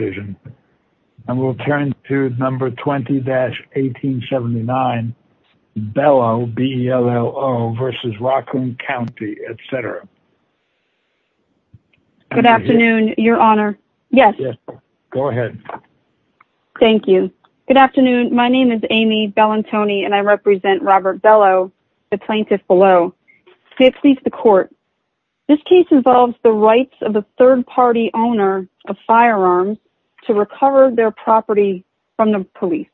And we'll turn to number 20-1879, Bello, B-E-L-L-O, versus Raccoon County, et cetera. Good afternoon, your honor. Yes. Go ahead. Thank you. Good afternoon. My name is Amy Bellantoni, and I represent Robert Bello, the plaintiff below. Let's speak to the court. This case involves the rights of a third-party owner of firearms to recover their property from the police.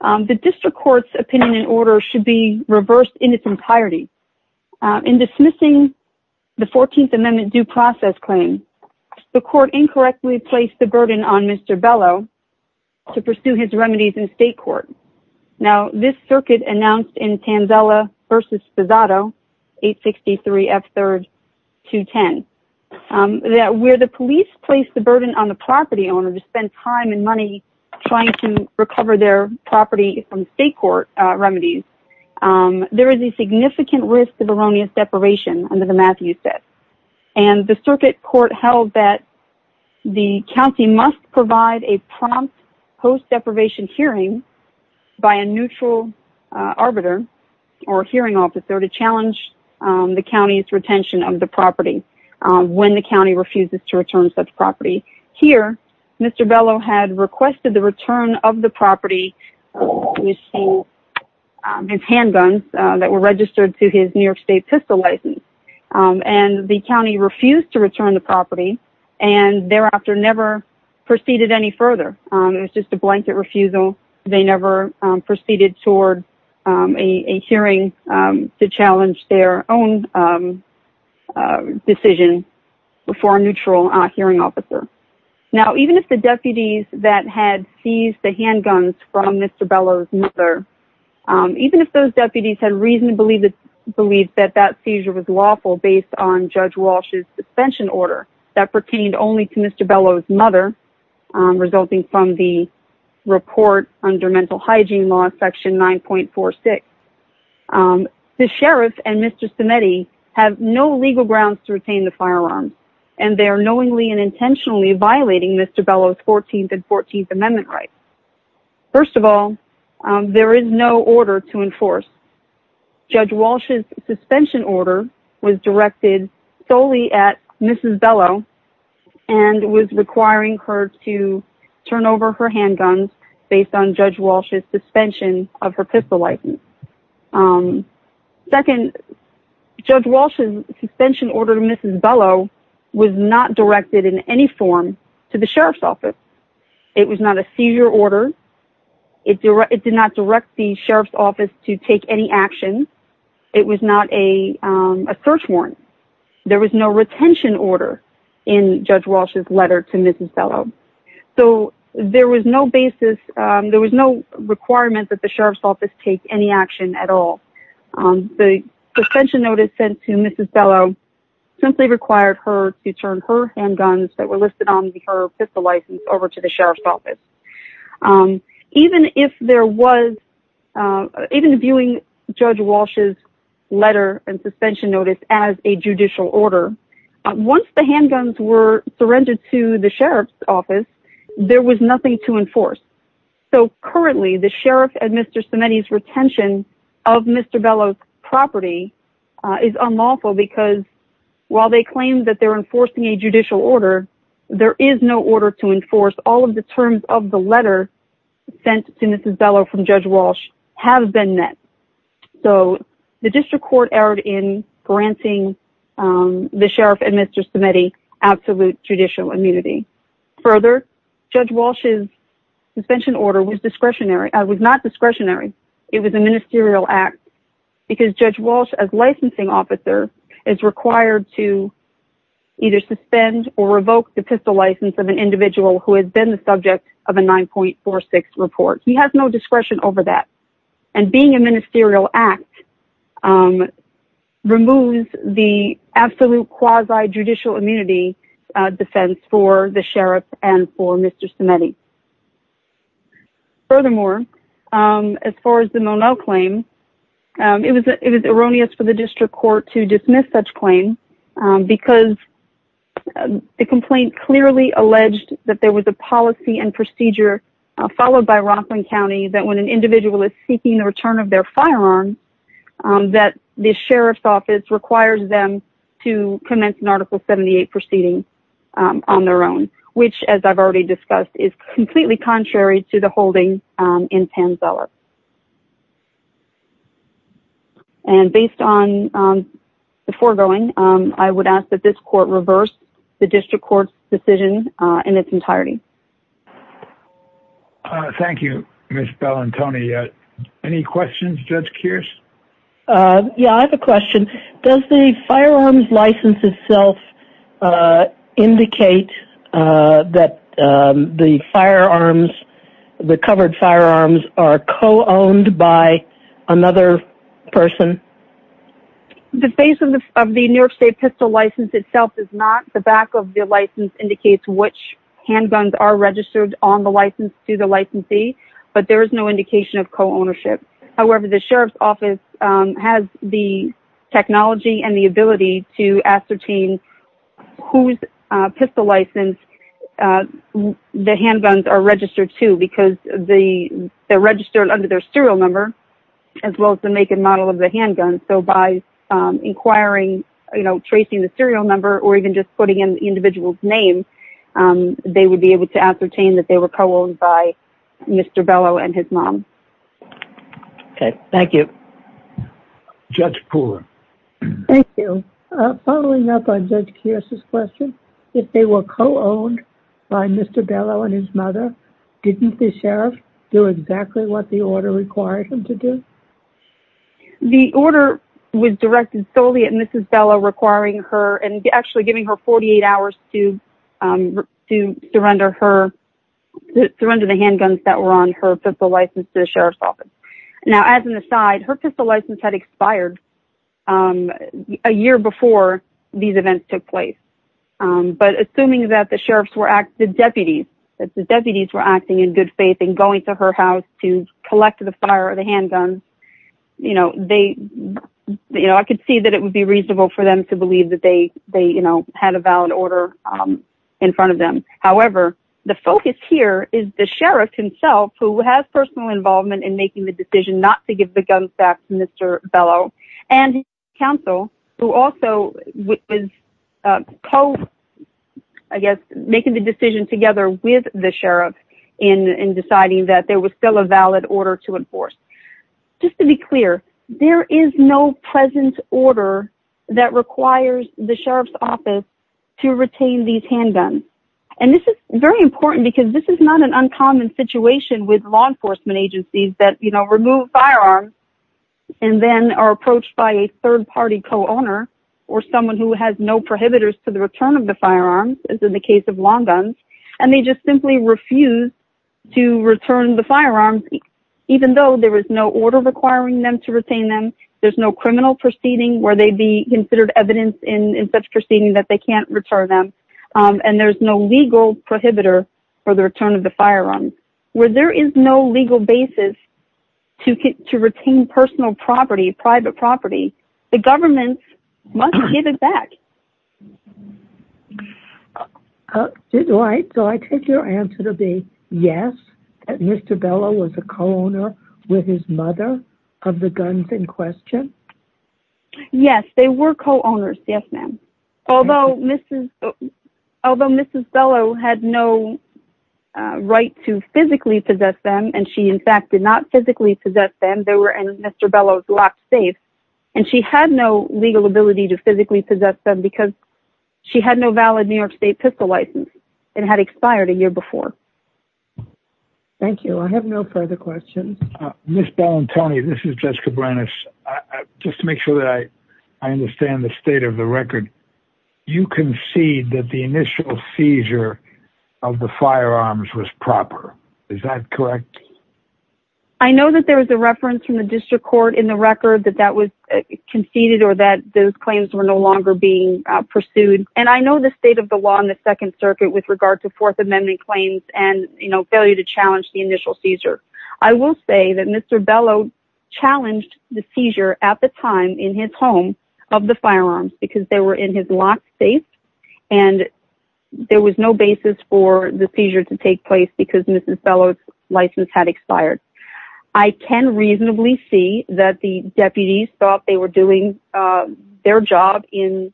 The district court's opinion and order should be reversed in its entirety. In dismissing the 14th Amendment due process claim, the court incorrectly placed the burden on Mr. Bello to pursue his remedies in state court. Now, this circuit announced in Tanzella v. Sposato, 863F3-210, that where the police placed the burden on the property owner to spend time and money trying to recover their property from state court remedies, there is a significant risk of erroneous deprivation under the Matthews Act. And the circuit court held that the county must provide a prompt post-deprivation hearing by a neutral arbiter or hearing officer to challenge the county's retention of the property when the county refuses to return such property. Here, Mr. Bello had requested the return of the property with handguns that were registered to his New York State pistol license. And the county refused to return the property and thereafter never proceeded any further. It was just a blanket refusal. They never proceeded toward a hearing to challenge their own decision before a neutral hearing officer. Now, even if the deputies that had seized the handguns from Mr. Bello's mother, even if those deputies had reason to believe that that seizure was lawful based on Judge Walsh's suspension order that pertained only to Mr. Bello's mother, resulting from the report under Mental Hygiene Law, Section 9.46, the sheriff and Mr. Samedi have no legal grounds to retain the firearms and they are knowingly and intentionally violating Mr. Bello's 14th and 14th Amendment rights. First of all, there is no order to enforce. Judge Walsh's suspension order was directed solely at Mrs. Bello and was requiring her to turn over her handguns based on Judge Walsh's suspension of her pistol license. Second, Judge Walsh's suspension order to Mrs. Bello was not directed in any form to the sheriff's office. It was not a seizure order. It did not direct the sheriff's office to take any action. It was not a search warrant. There was no retention order in Judge Walsh's letter to Mrs. Bello. So there was no basis, there was no requirement that the sheriff's office take any action at all. The suspension notice sent to Mrs. Bello simply required her to turn her handguns that were to the sheriff's office. Even if there was, even viewing Judge Walsh's letter and suspension notice as a judicial order, once the handguns were surrendered to the sheriff's office, there was nothing to enforce. So currently the sheriff and Mr. Samedi's retention of Mr. Bello's property is unlawful because while they claim that they're enforcing a judicial order, there is no order to enforce all of the terms of the letter sent to Mrs. Bello from Judge Walsh have been met. So the district court erred in granting the sheriff and Mr. Samedi absolute judicial immunity. Further, Judge Walsh's suspension order was discretionary. It was not discretionary. It was a ministerial act because Judge Walsh as licensing officer is required to either the pistol license of an individual who has been the subject of a 9.46 report. He has no discretion over that. And being a ministerial act removes the absolute quasi-judicial immunity defense for the sheriff and for Mr. Samedi. Furthermore, as far as the Monell claim, it was erroneous for the district court to dismiss such claim because the complaint clearly alleged that there was a policy and procedure followed by Rockland County that when an individual is seeking the return of their firearm, that the sheriff's office requires them to commence an article 78 proceeding on their own, which as I've already discussed is completely contrary to the holding in Panzella. And based on the foregoing, I would ask that this court reverse the district court's decision in its entirety. Thank you, Ms. Bellantoni. Any questions, Judge Kearse? Yeah, I have a question. Does the firearms license itself indicate that the firearms, the covered firearms are co-owned by another person? The face of the New York state pistol license itself is not. The back of the license indicates which handguns are registered on the license to the licensee, but there is no indication of co-ownership. However, the sheriff's office has the technology and the ability to ascertain whose pistol license the handguns are registered to because they're registered under their serial number as well as the make and model of the handgun. So by inquiring, you know, tracing the serial number or even just putting in the individual's name, they would be able to ascertain that they were co-owned by Mr. Bellow and his mom. Okay, thank you. Judge Pooler. Thank you. Following up on Judge Kearse's question, if they were co-owned by Mr. Bellow and his mother, didn't the sheriff do exactly what the order required him to do? The order was directed solely at Mrs. Bellow requiring her and actually giving her 48 hours to surrender the handguns that were on her pistol license to the sheriff's office. Now, as an aside, her pistol license had expired a year before these events took place. But assuming that the deputies were acting in good faith and going to her house to collect the fire or the handguns, you know, I could see that it would be reasonable for them to believe that they had a valid order in front of them. However, the focus here is the sheriff himself who has personal involvement in making the decision not to give the guns back to Mr. Bellow and his counsel who also was co- I guess making the decision together with the sheriff in deciding that there was still a valid order to enforce. Just to be clear, there is no present order that requires the sheriff's office to retain these handguns. And this is very important because this is not an uncommon situation with law enforcement agencies that remove firearms and then are approached by a third party co-owner or someone who has no prohibitors to the return of the firearms, as in the case of long guns, and they just simply refuse to return the firearms, even though there is no order requiring them to retain them. There's no criminal proceeding where they'd be considered evidence in such proceeding that they can't return them. And there's no legal prohibitor for the return of the firearms. Where there is no legal basis to retain personal property, private property, the government must give it back. Right. So I take your answer to be yes, that Mr. Bellow was a co-owner with his mother of the guns in question? Yes, ma'am. Although Mrs. Bellow had no right to physically possess them, and she, in fact, did not physically possess them. They were in Mr. Bellow's locked safe, and she had no legal ability to physically possess them because she had no valid New York state pistol license and had expired a year before. Thank you. I have no further questions. Ms. Bellantoni, this is Judge Cabranes. Just to make sure that I understand the state of the record, you concede that the initial seizure of the firearms was proper. Is that correct? I know that there was a reference from the district court in the record that that was conceded or that those claims were no longer being pursued. And I know the state of the law in the Second Circuit with regard to Fourth Amendment claims and, you know, failure to challenge the initial seizure. I will say that Mr. Bellow challenged the seizure at the time in his home of the firearms because they were in his locked safe, and there was no basis for the seizure to take place because Mrs. Bellow's license had expired. I can reasonably see that the deputies thought they were doing their job in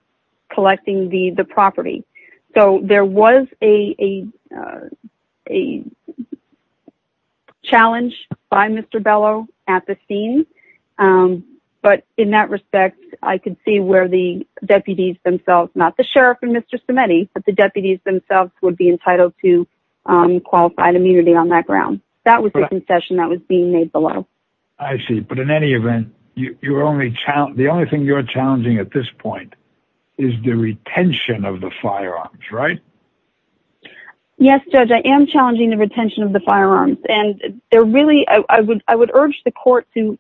collecting the property. So there was a challenge by Mr. Bellow at the scene, but in that respect, I could see where the deputies themselves, not the sheriff and Mr. Semeny, but the deputies themselves would be entitled to qualified immunity on that ground. That was the concession that was being made below. I see. But in any event, the only thing you're challenging at this point is the retention of the firearms, right? Yes, Judge. I am challenging the retention of the firearms, and I would urge the court to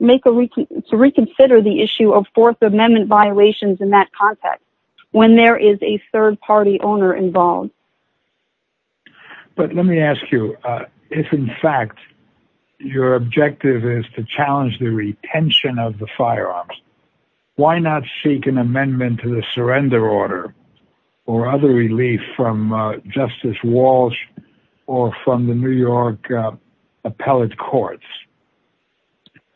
reconsider the issue of Fourth Amendment violations in that context when there is a third-party owner involved. But let me ask you, if in fact your objective is to challenge the retention of the firearms, why not seek an amendment to the surrender order or other relief from Justice Walsh or from the New York appellate courts?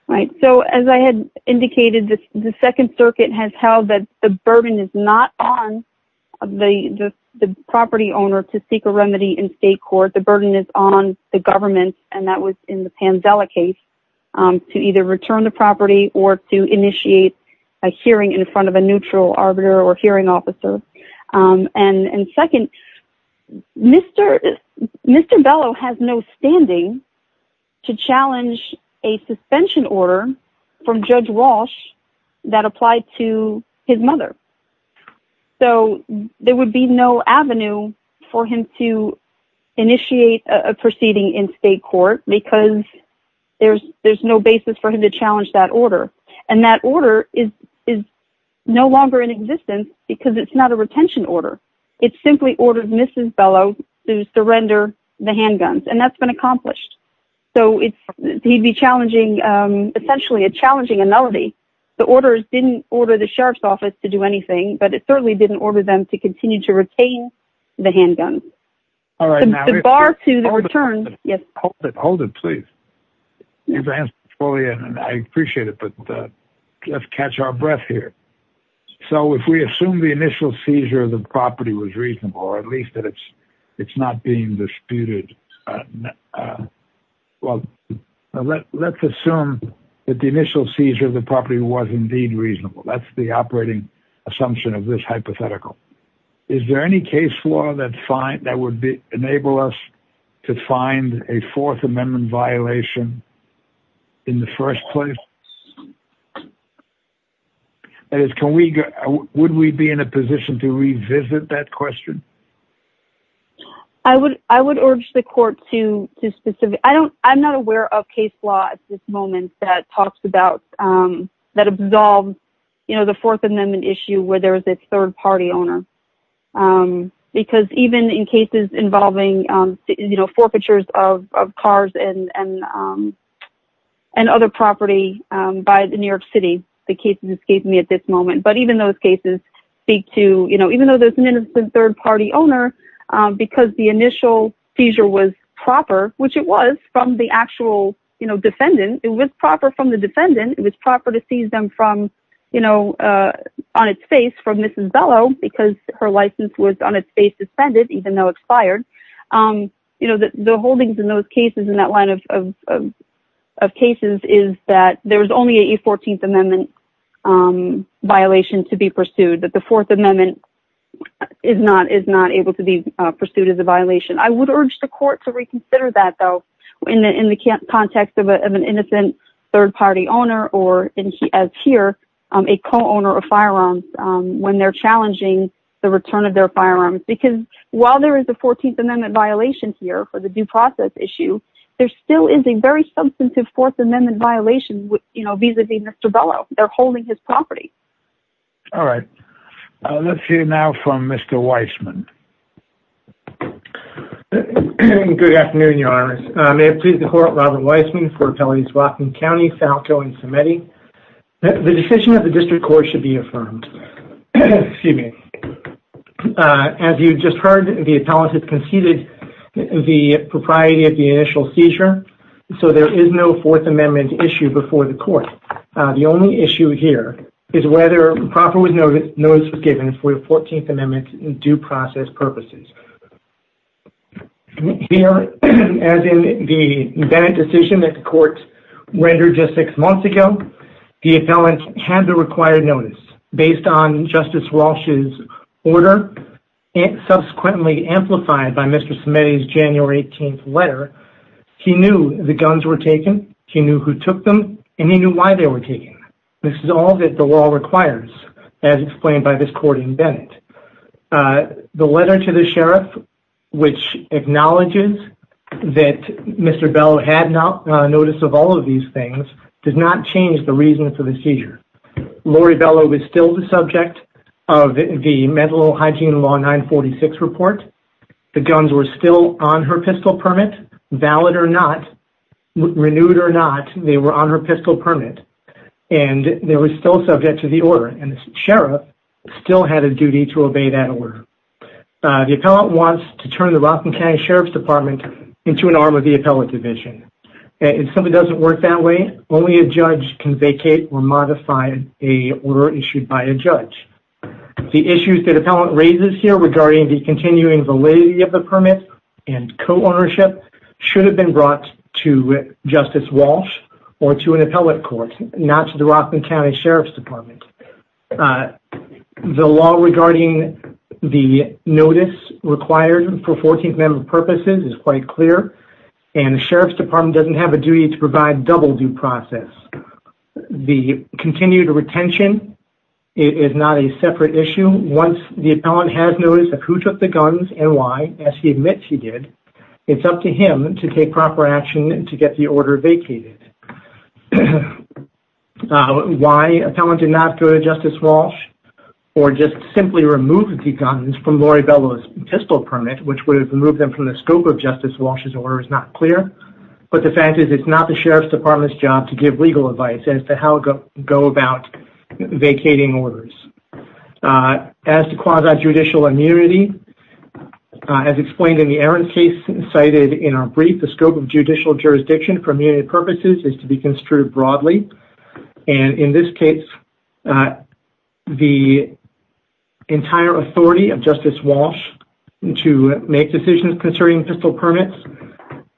Right. So as I had indicated, the Second Circuit has held that the burden is not on the property owner to seek a remedy in state court. The burden is on the government, and that was in the Pandela case, to either return the property or to initiate a hearing in front of a neutral arbiter or hearing officer. And second, Mr. Bellow has no standing to challenge a suspension order from Judge Walsh that applied to his mother. So there would be no avenue for him to initiate a proceeding in state court because there's no basis for him to challenge that order. And that order is no longer in existence because it's not a retention order. It simply ordered Mrs. Bellow to surrender the handguns, and that's been accomplished. So he'd be challenging, essentially challenging a melody. The orders didn't order the sheriff's office to do anything, but it certainly didn't order them to continue to retain the handguns. All right. Bar to the return. Yes. Hold it. Hold it, please. You've answered fully, and I appreciate it, but let's catch our breath here. So if we assume the initial seizure of the property was reasonable, or at least that it's not being disputed, well, let's assume that the initial seizure of the property was indeed reasonable. That's the operating assumption of this hypothetical. Is there any case law that would enable us to find a fourth amendment violation in the first place? That is, would we be in a position to revisit that question? I would urge the court to specifically... I'm not aware of case law at this moment that talks about, that absolves the fourth amendment issue where there is a third party owner. Because even in cases involving forfeitures of cars and other property by the New York City, the cases escape me at this moment. But even those cases speak to, even though there's an innocent third party owner, because the initial seizure was proper, which it was from the actual defendant, it was proper from the defendant. It was proper to seize them on its face from Mrs. Bellow, because her license was on its face suspended, even though expired. The holdings in those cases, in that line of cases, is that there was only a 14th amendment violation to be pursued, that the fourth amendment is not able to be pursued as a violation. I would urge the court to reconsider that though, in the context of an innocent third party owner, or as here, a co-owner of firearms when they're challenging the return of their firearms. Because while there is a 14th amendment violation here for the due process issue, there still is a very substantive fourth amendment violation vis-a-vis Mr. Bellow. They're holding his property. All right, let's hear now from Mr. Weisman. Good afternoon, Your Honor. May it please the court, Robert Weisman for Appellates Rockland County, Falco, and Semedi. The decision of the district court should be affirmed. Excuse me. As you just heard, the appellate has conceded the propriety of the initial seizure, so there is no fourth amendment issue before the court. The only issue here is whether proper notice was given for the 14th amendment due process purposes. Here, as in the Bennett decision that the court rendered just six months ago, the appellant had the required notice based on Justice Walsh's order, and subsequently amplified by Mr. Semedi's January 18th letter. He knew the guns were taken. He knew who took them, and he knew why they were taken. This is all that the law requires, as explained by this court in Bennett. The letter to the sheriff, which acknowledges that Mr. Bellow had notice of all of these things, did not change the reason for the seizure. Lori Bellow was still the subject of the Mental Hygiene Law 946 report. The guns were still on her pistol permit, valid or not, renewed or not, they were on her pistol permit, and they were still subject to the order. Sheriff still had a duty to obey that order. The appellant wants to turn the Rockland County Sheriff's Department into an arm of the appellate division. If something doesn't work that way, only a judge can vacate or modify an order issued by a judge. The issues that the appellant raises here regarding the continuing validity of the permit and co-ownership should have been brought to Justice Walsh or to an appellate court, not to the Rockland County Sheriff's Department. The law regarding the notice required for 14th Amendment purposes is quite clear, and the Sheriff's Department doesn't have a duty to provide double due process. The continued retention is not a separate issue. Once the appellant has notice of who took the guns and why, as he admits he did, it's up to him to take proper action to get the order vacated. Why the appellant did not go to Justice Walsh or just simply remove the guns from Lori Bello's pistol permit, which would have removed them from the scope of Justice Walsh's order, is not clear, but the fact is, it's not the Sheriff's Department's job to give legal advice as to how to go about vacating orders. As to quasi-judicial immunity, as explained in the Aaron case cited in our brief, the is to be construed broadly, and in this case, the entire authority of Justice Walsh to make decisions concerning pistol permits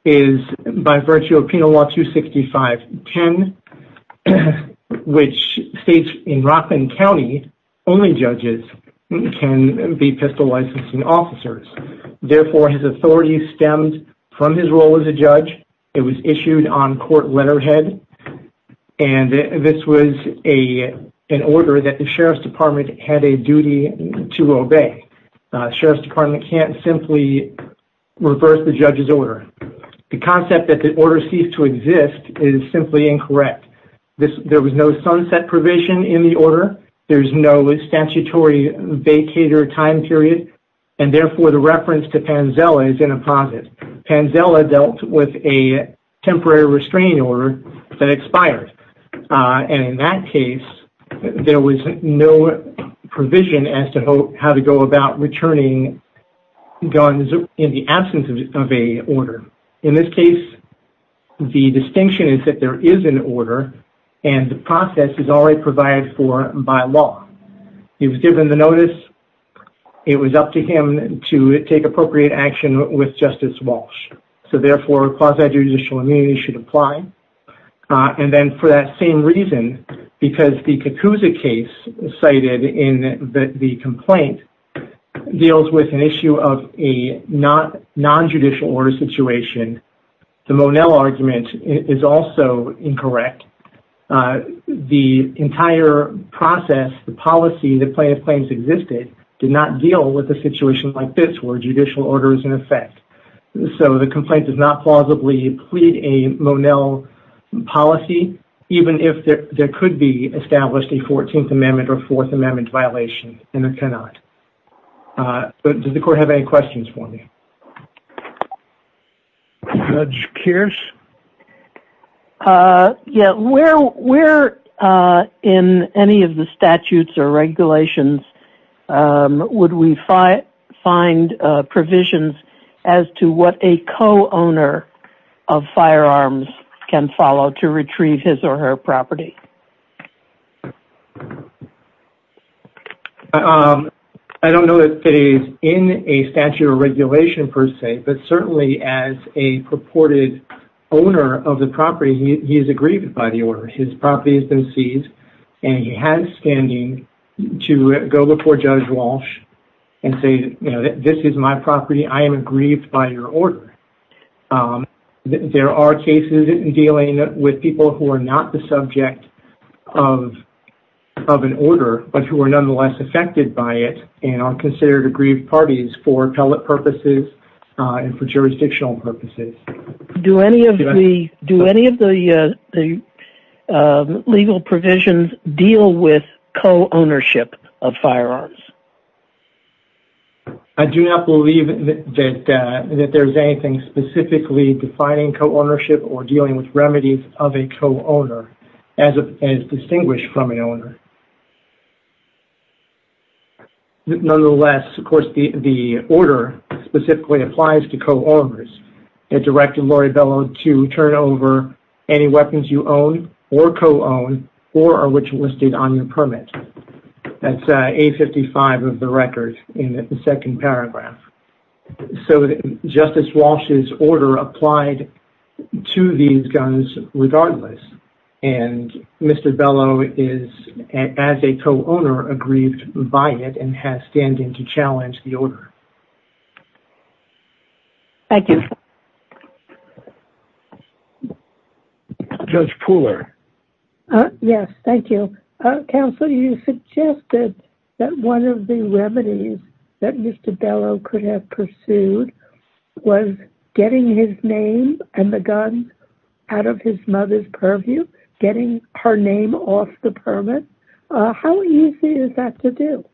is by virtue of Penal Law 265-10, which states in Rockland County, only judges can be pistol licensing officers. Therefore, his authority stemmed from his role as a judge. It was issued on court letterhead, and this was an order that the Sheriff's Department had a duty to obey. Sheriff's Department can't simply reverse the judge's order. The concept that the order ceased to exist is simply incorrect. There was no sunset provision in the order. There's no statutory vacator time period, and therefore, the reference to Panzella is in a process. Panzella dealt with a temporary restraining order that expired, and in that case, there was no provision as to how to go about returning guns in the absence of an order. In this case, the distinction is that there is an order, and the process is already provided for by law. He was given the notice. It was up to him to take appropriate action with Justice Walsh. So therefore, quasi-judicial immunity should apply. And then for that same reason, because the Cacuzza case cited in the complaint deals with an issue of a non-judicial order situation, the Monell argument is also incorrect. The entire process, the policy, the plaintiff's claims existed did not deal with a situation like this, where a judicial order is in effect. So the complaint does not plausibly plead a Monell policy, even if there could be established a 14th Amendment or 4th Amendment violation, and it cannot. Does the court have any questions for me? Judge Keirs? Yeah, where in any of the statutes or regulations would we find provisions as to what a co-owner of firearms can follow to retrieve his or her property? I don't know if it is in a statute or regulation per se, but certainly as a purported owner of the property, he is aggrieved by the order. His property has been seized, and he has standing to go before Judge Walsh and say, you know, this is my property. I am aggrieved by your order. There are cases dealing with people who are not the subject of the statute, and they are of an order, but who are nonetheless affected by it and are considered aggrieved parties for appellate purposes and for jurisdictional purposes. Do any of the legal provisions deal with co-ownership of firearms? I do not believe that there is anything specifically defining co-ownership or dealing with remedies of a co-owner as distinguished from an owner. Nonetheless, of course, the order specifically applies to co-owners. It directed Lori Bellow to turn over any weapons you own or co-own or are which listed on your permit. That is A55 of the record in the second paragraph. So Justice Walsh's order applied to these guns regardless, and Mr. Bellow is, as a co-owner, aggrieved by it and has standing to challenge the order. Thank you. Judge Pooler. Yes, thank you. Counsel, you suggested that one of the remedies that Mr. Bellow could have pursued was getting his name and the guns out of his mother's purview, getting her name off the permit. How easy is that to do?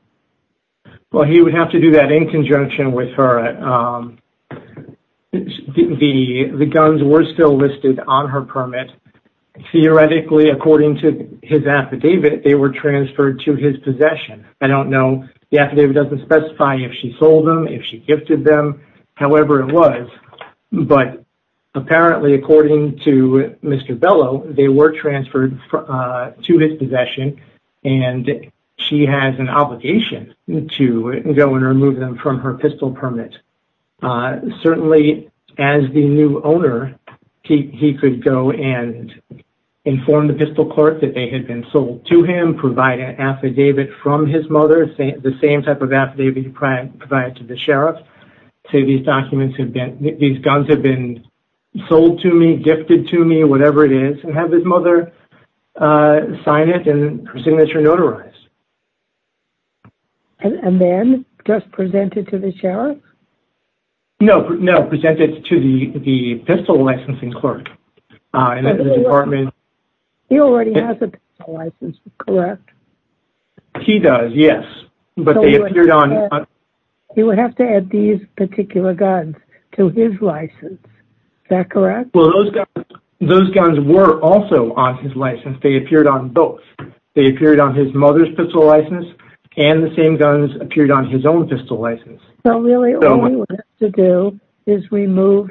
Well, he would have to do that in conjunction with her. The guns were still listed on her permit. Theoretically, according to his affidavit, they were transferred to his possession. I don't know. The affidavit doesn't specify if she sold them, if she gifted them, however it was. But apparently, according to Mr. Bellow, they were transferred to his possession, and she has an obligation to go and remove them from her pistol permit. But certainly, as the new owner, he could go and inform the pistol clerk that they had been sold to him, provide an affidavit from his mother, the same type of affidavit he provided to the sheriff, say these guns have been sold to me, gifted to me, whatever it is, and have his mother sign it and her signature notarized. And then just present it to the sheriff? No, present it to the pistol licensing clerk in the department. He already has a pistol license, correct? He does, yes. He would have to add these particular guns to his license, is that correct? Well, those guns were also on his license. They appeared on both. They appeared on his mother's pistol license, and the same guns appeared on his own pistol license. So really, all he would have to do is remove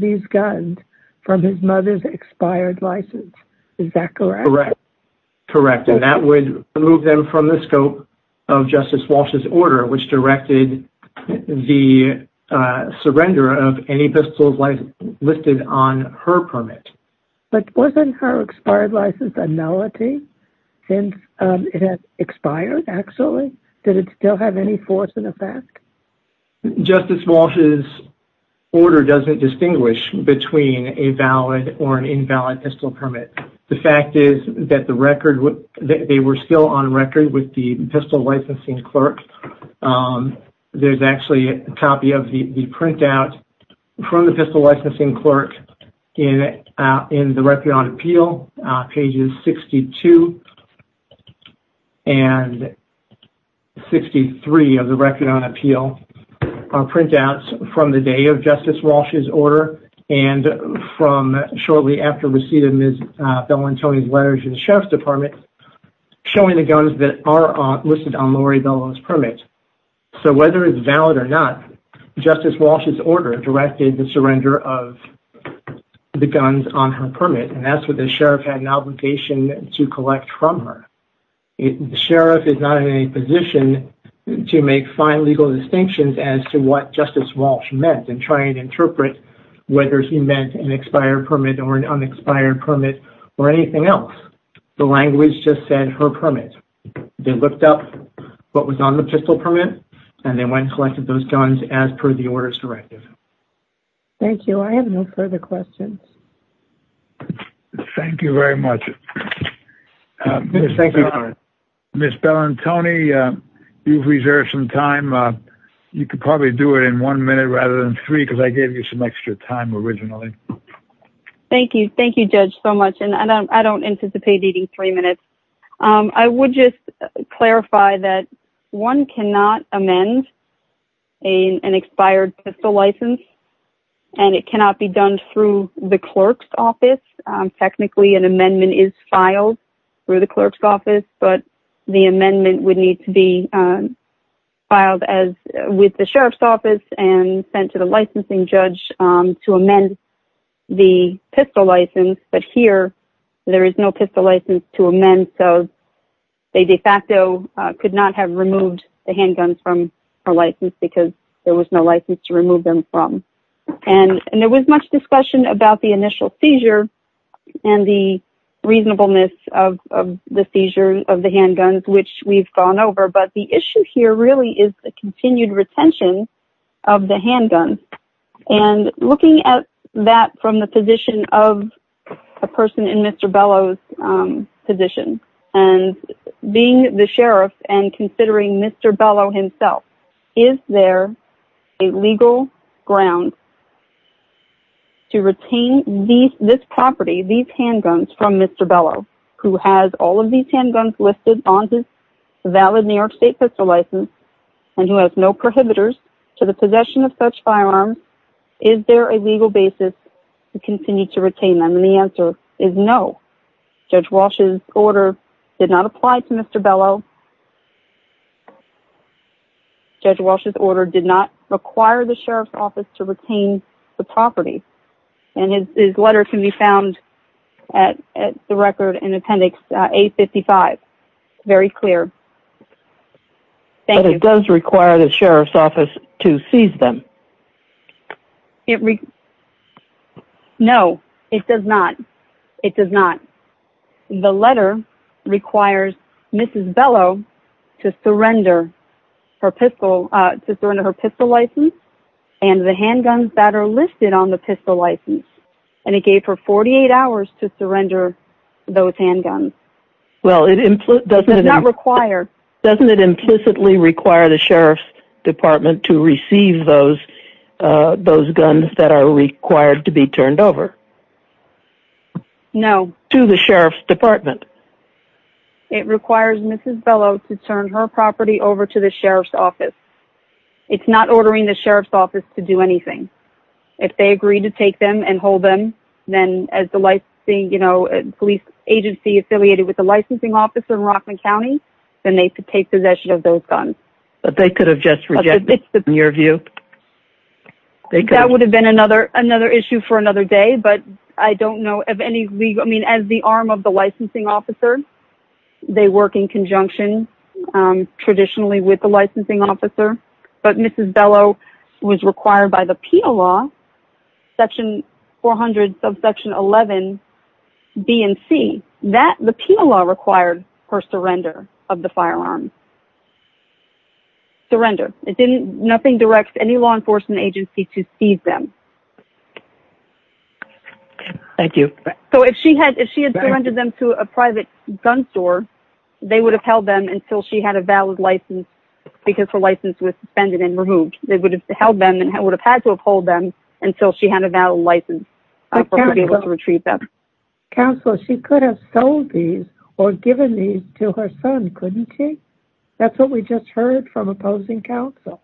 these guns from his mother's expired license, is that correct? Correct, correct. And that would remove them from the scope of Justice Walsh's order, which directed the surrender of any pistols listed on her permit. But wasn't her expired license a nullity since it had expired, actually? Did it still have any force in effect? Justice Walsh's order doesn't distinguish between a valid or an invalid pistol permit. The fact is that they were still on record with the pistol licensing clerk. There's actually a copy of the printout from the pistol licensing clerk in the Record on Appeal, pages 62 and 63 of the Record on Appeal, printouts from the day of Justice Walsh's order and from shortly after receipt of Ms. Bellantoni's letters to the Sheriff's Department showing the guns that are listed on Lori Bellantoni's permit. So whether it's valid or not, Justice Walsh's order directed the surrender of the guns on her permit. And that's what the Sheriff had an obligation to collect from her. The Sheriff is not in any position to make fine legal distinctions as to what Justice Walsh meant and try and interpret whether he meant an expired permit or an unexpired permit or anything else. The language just said her permit. They looked up what was on the pistol permit and they went and collected those guns as per the orders directive. Thank you. I have no further questions. Thank you very much. Ms. Bellantoni, you've reserved some time. You could probably do it in one minute rather than three because I gave you some extra time originally. Thank you. Thank you, Judge, so much. And I don't anticipate needing three minutes. I would just clarify that one cannot amend an expired pistol license. And it cannot be done through the clerk's office. Technically, an amendment is filed through the clerk's office, but the amendment would need to be filed with the Sheriff's office and sent to the licensing judge to amend the pistol license. But here, there is no pistol license to amend. So they de facto could not have removed the handguns from her license because there was no license to remove them from. And there was much discussion about the initial seizure and the reasonableness of the seizure of the handguns, which we've gone over. But the issue here really is the continued retention of the handgun. And looking at that from the position of a person in Mr. Bellow's position and being the sheriff and considering Mr. Bellow himself, is there a legal ground to retain this property, these handguns from Mr. Bellow, who has all of these handguns listed on his valid New York State pistol license and who has no prohibitors to the possession of such firearms? Is there a legal basis to continue to retain them? The answer is no. Judge Walsh's order did not apply to Mr. Bellow. Judge Walsh's order did not require the Sheriff's office to retain the property. And his letter can be found at the record in appendix 855. Very clear. But it does require the Sheriff's office to seize them. It. No, it does not. It does not. The letter requires Mrs. Bellow to surrender her pistol license and the handguns that are listed on the pistol license. And it gave her 48 hours to surrender those handguns. Well, it does not require. Doesn't it implicitly require the Sheriff's department to receive those those guns that are required to be turned over? No. To the Sheriff's department. It requires Mrs. Bellow to turn her property over to the Sheriff's office. It's not ordering the Sheriff's office to do anything. If they agree to take them and hold them, then as the licensing, you know, police agency affiliated with the licensing officer in Rockland County, then they could take possession of those guns. But they could have just rejected in your view. That would have been another another issue for another day. But I don't know if any legal I mean, as the arm of the licensing officer, they work in conjunction traditionally with the licensing officer. But Mrs. Bellow was required by the penal law. Section 400 of Section 11 B and C that the penal law required her surrender of the firearm. Surrender. It didn't nothing directs any law enforcement agency to feed them. Thank you. So if she had if she had surrendered them to a private gun store, they would have held them until she had a valid license because her license was suspended and removed. They would have held them and would have had to uphold them until she had a valid license to be able to retrieve them. Counselor, she could have sold these or given these to her son, couldn't she? That's what we just heard from opposing counsel.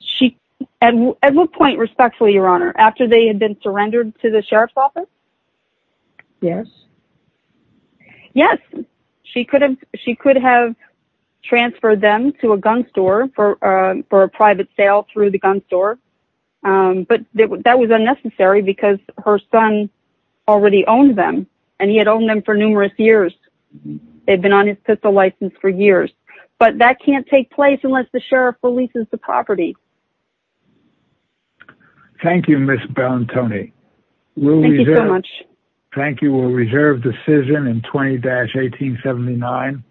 She and at what point respectfully, Your Honor, after they had been surrendered to the Sheriff's office? Yes. She could have she could have transferred them to a gun store for for a private sale through the gun store. But that was unnecessary because her son already owned them and he had owned them for numerous years. They've been on his pistol license for years, but that can't take place unless the sheriff releases the property. Thank you, Miss Bellantoni. Thank you so much. Thank you. Reserved decision in 20-1879.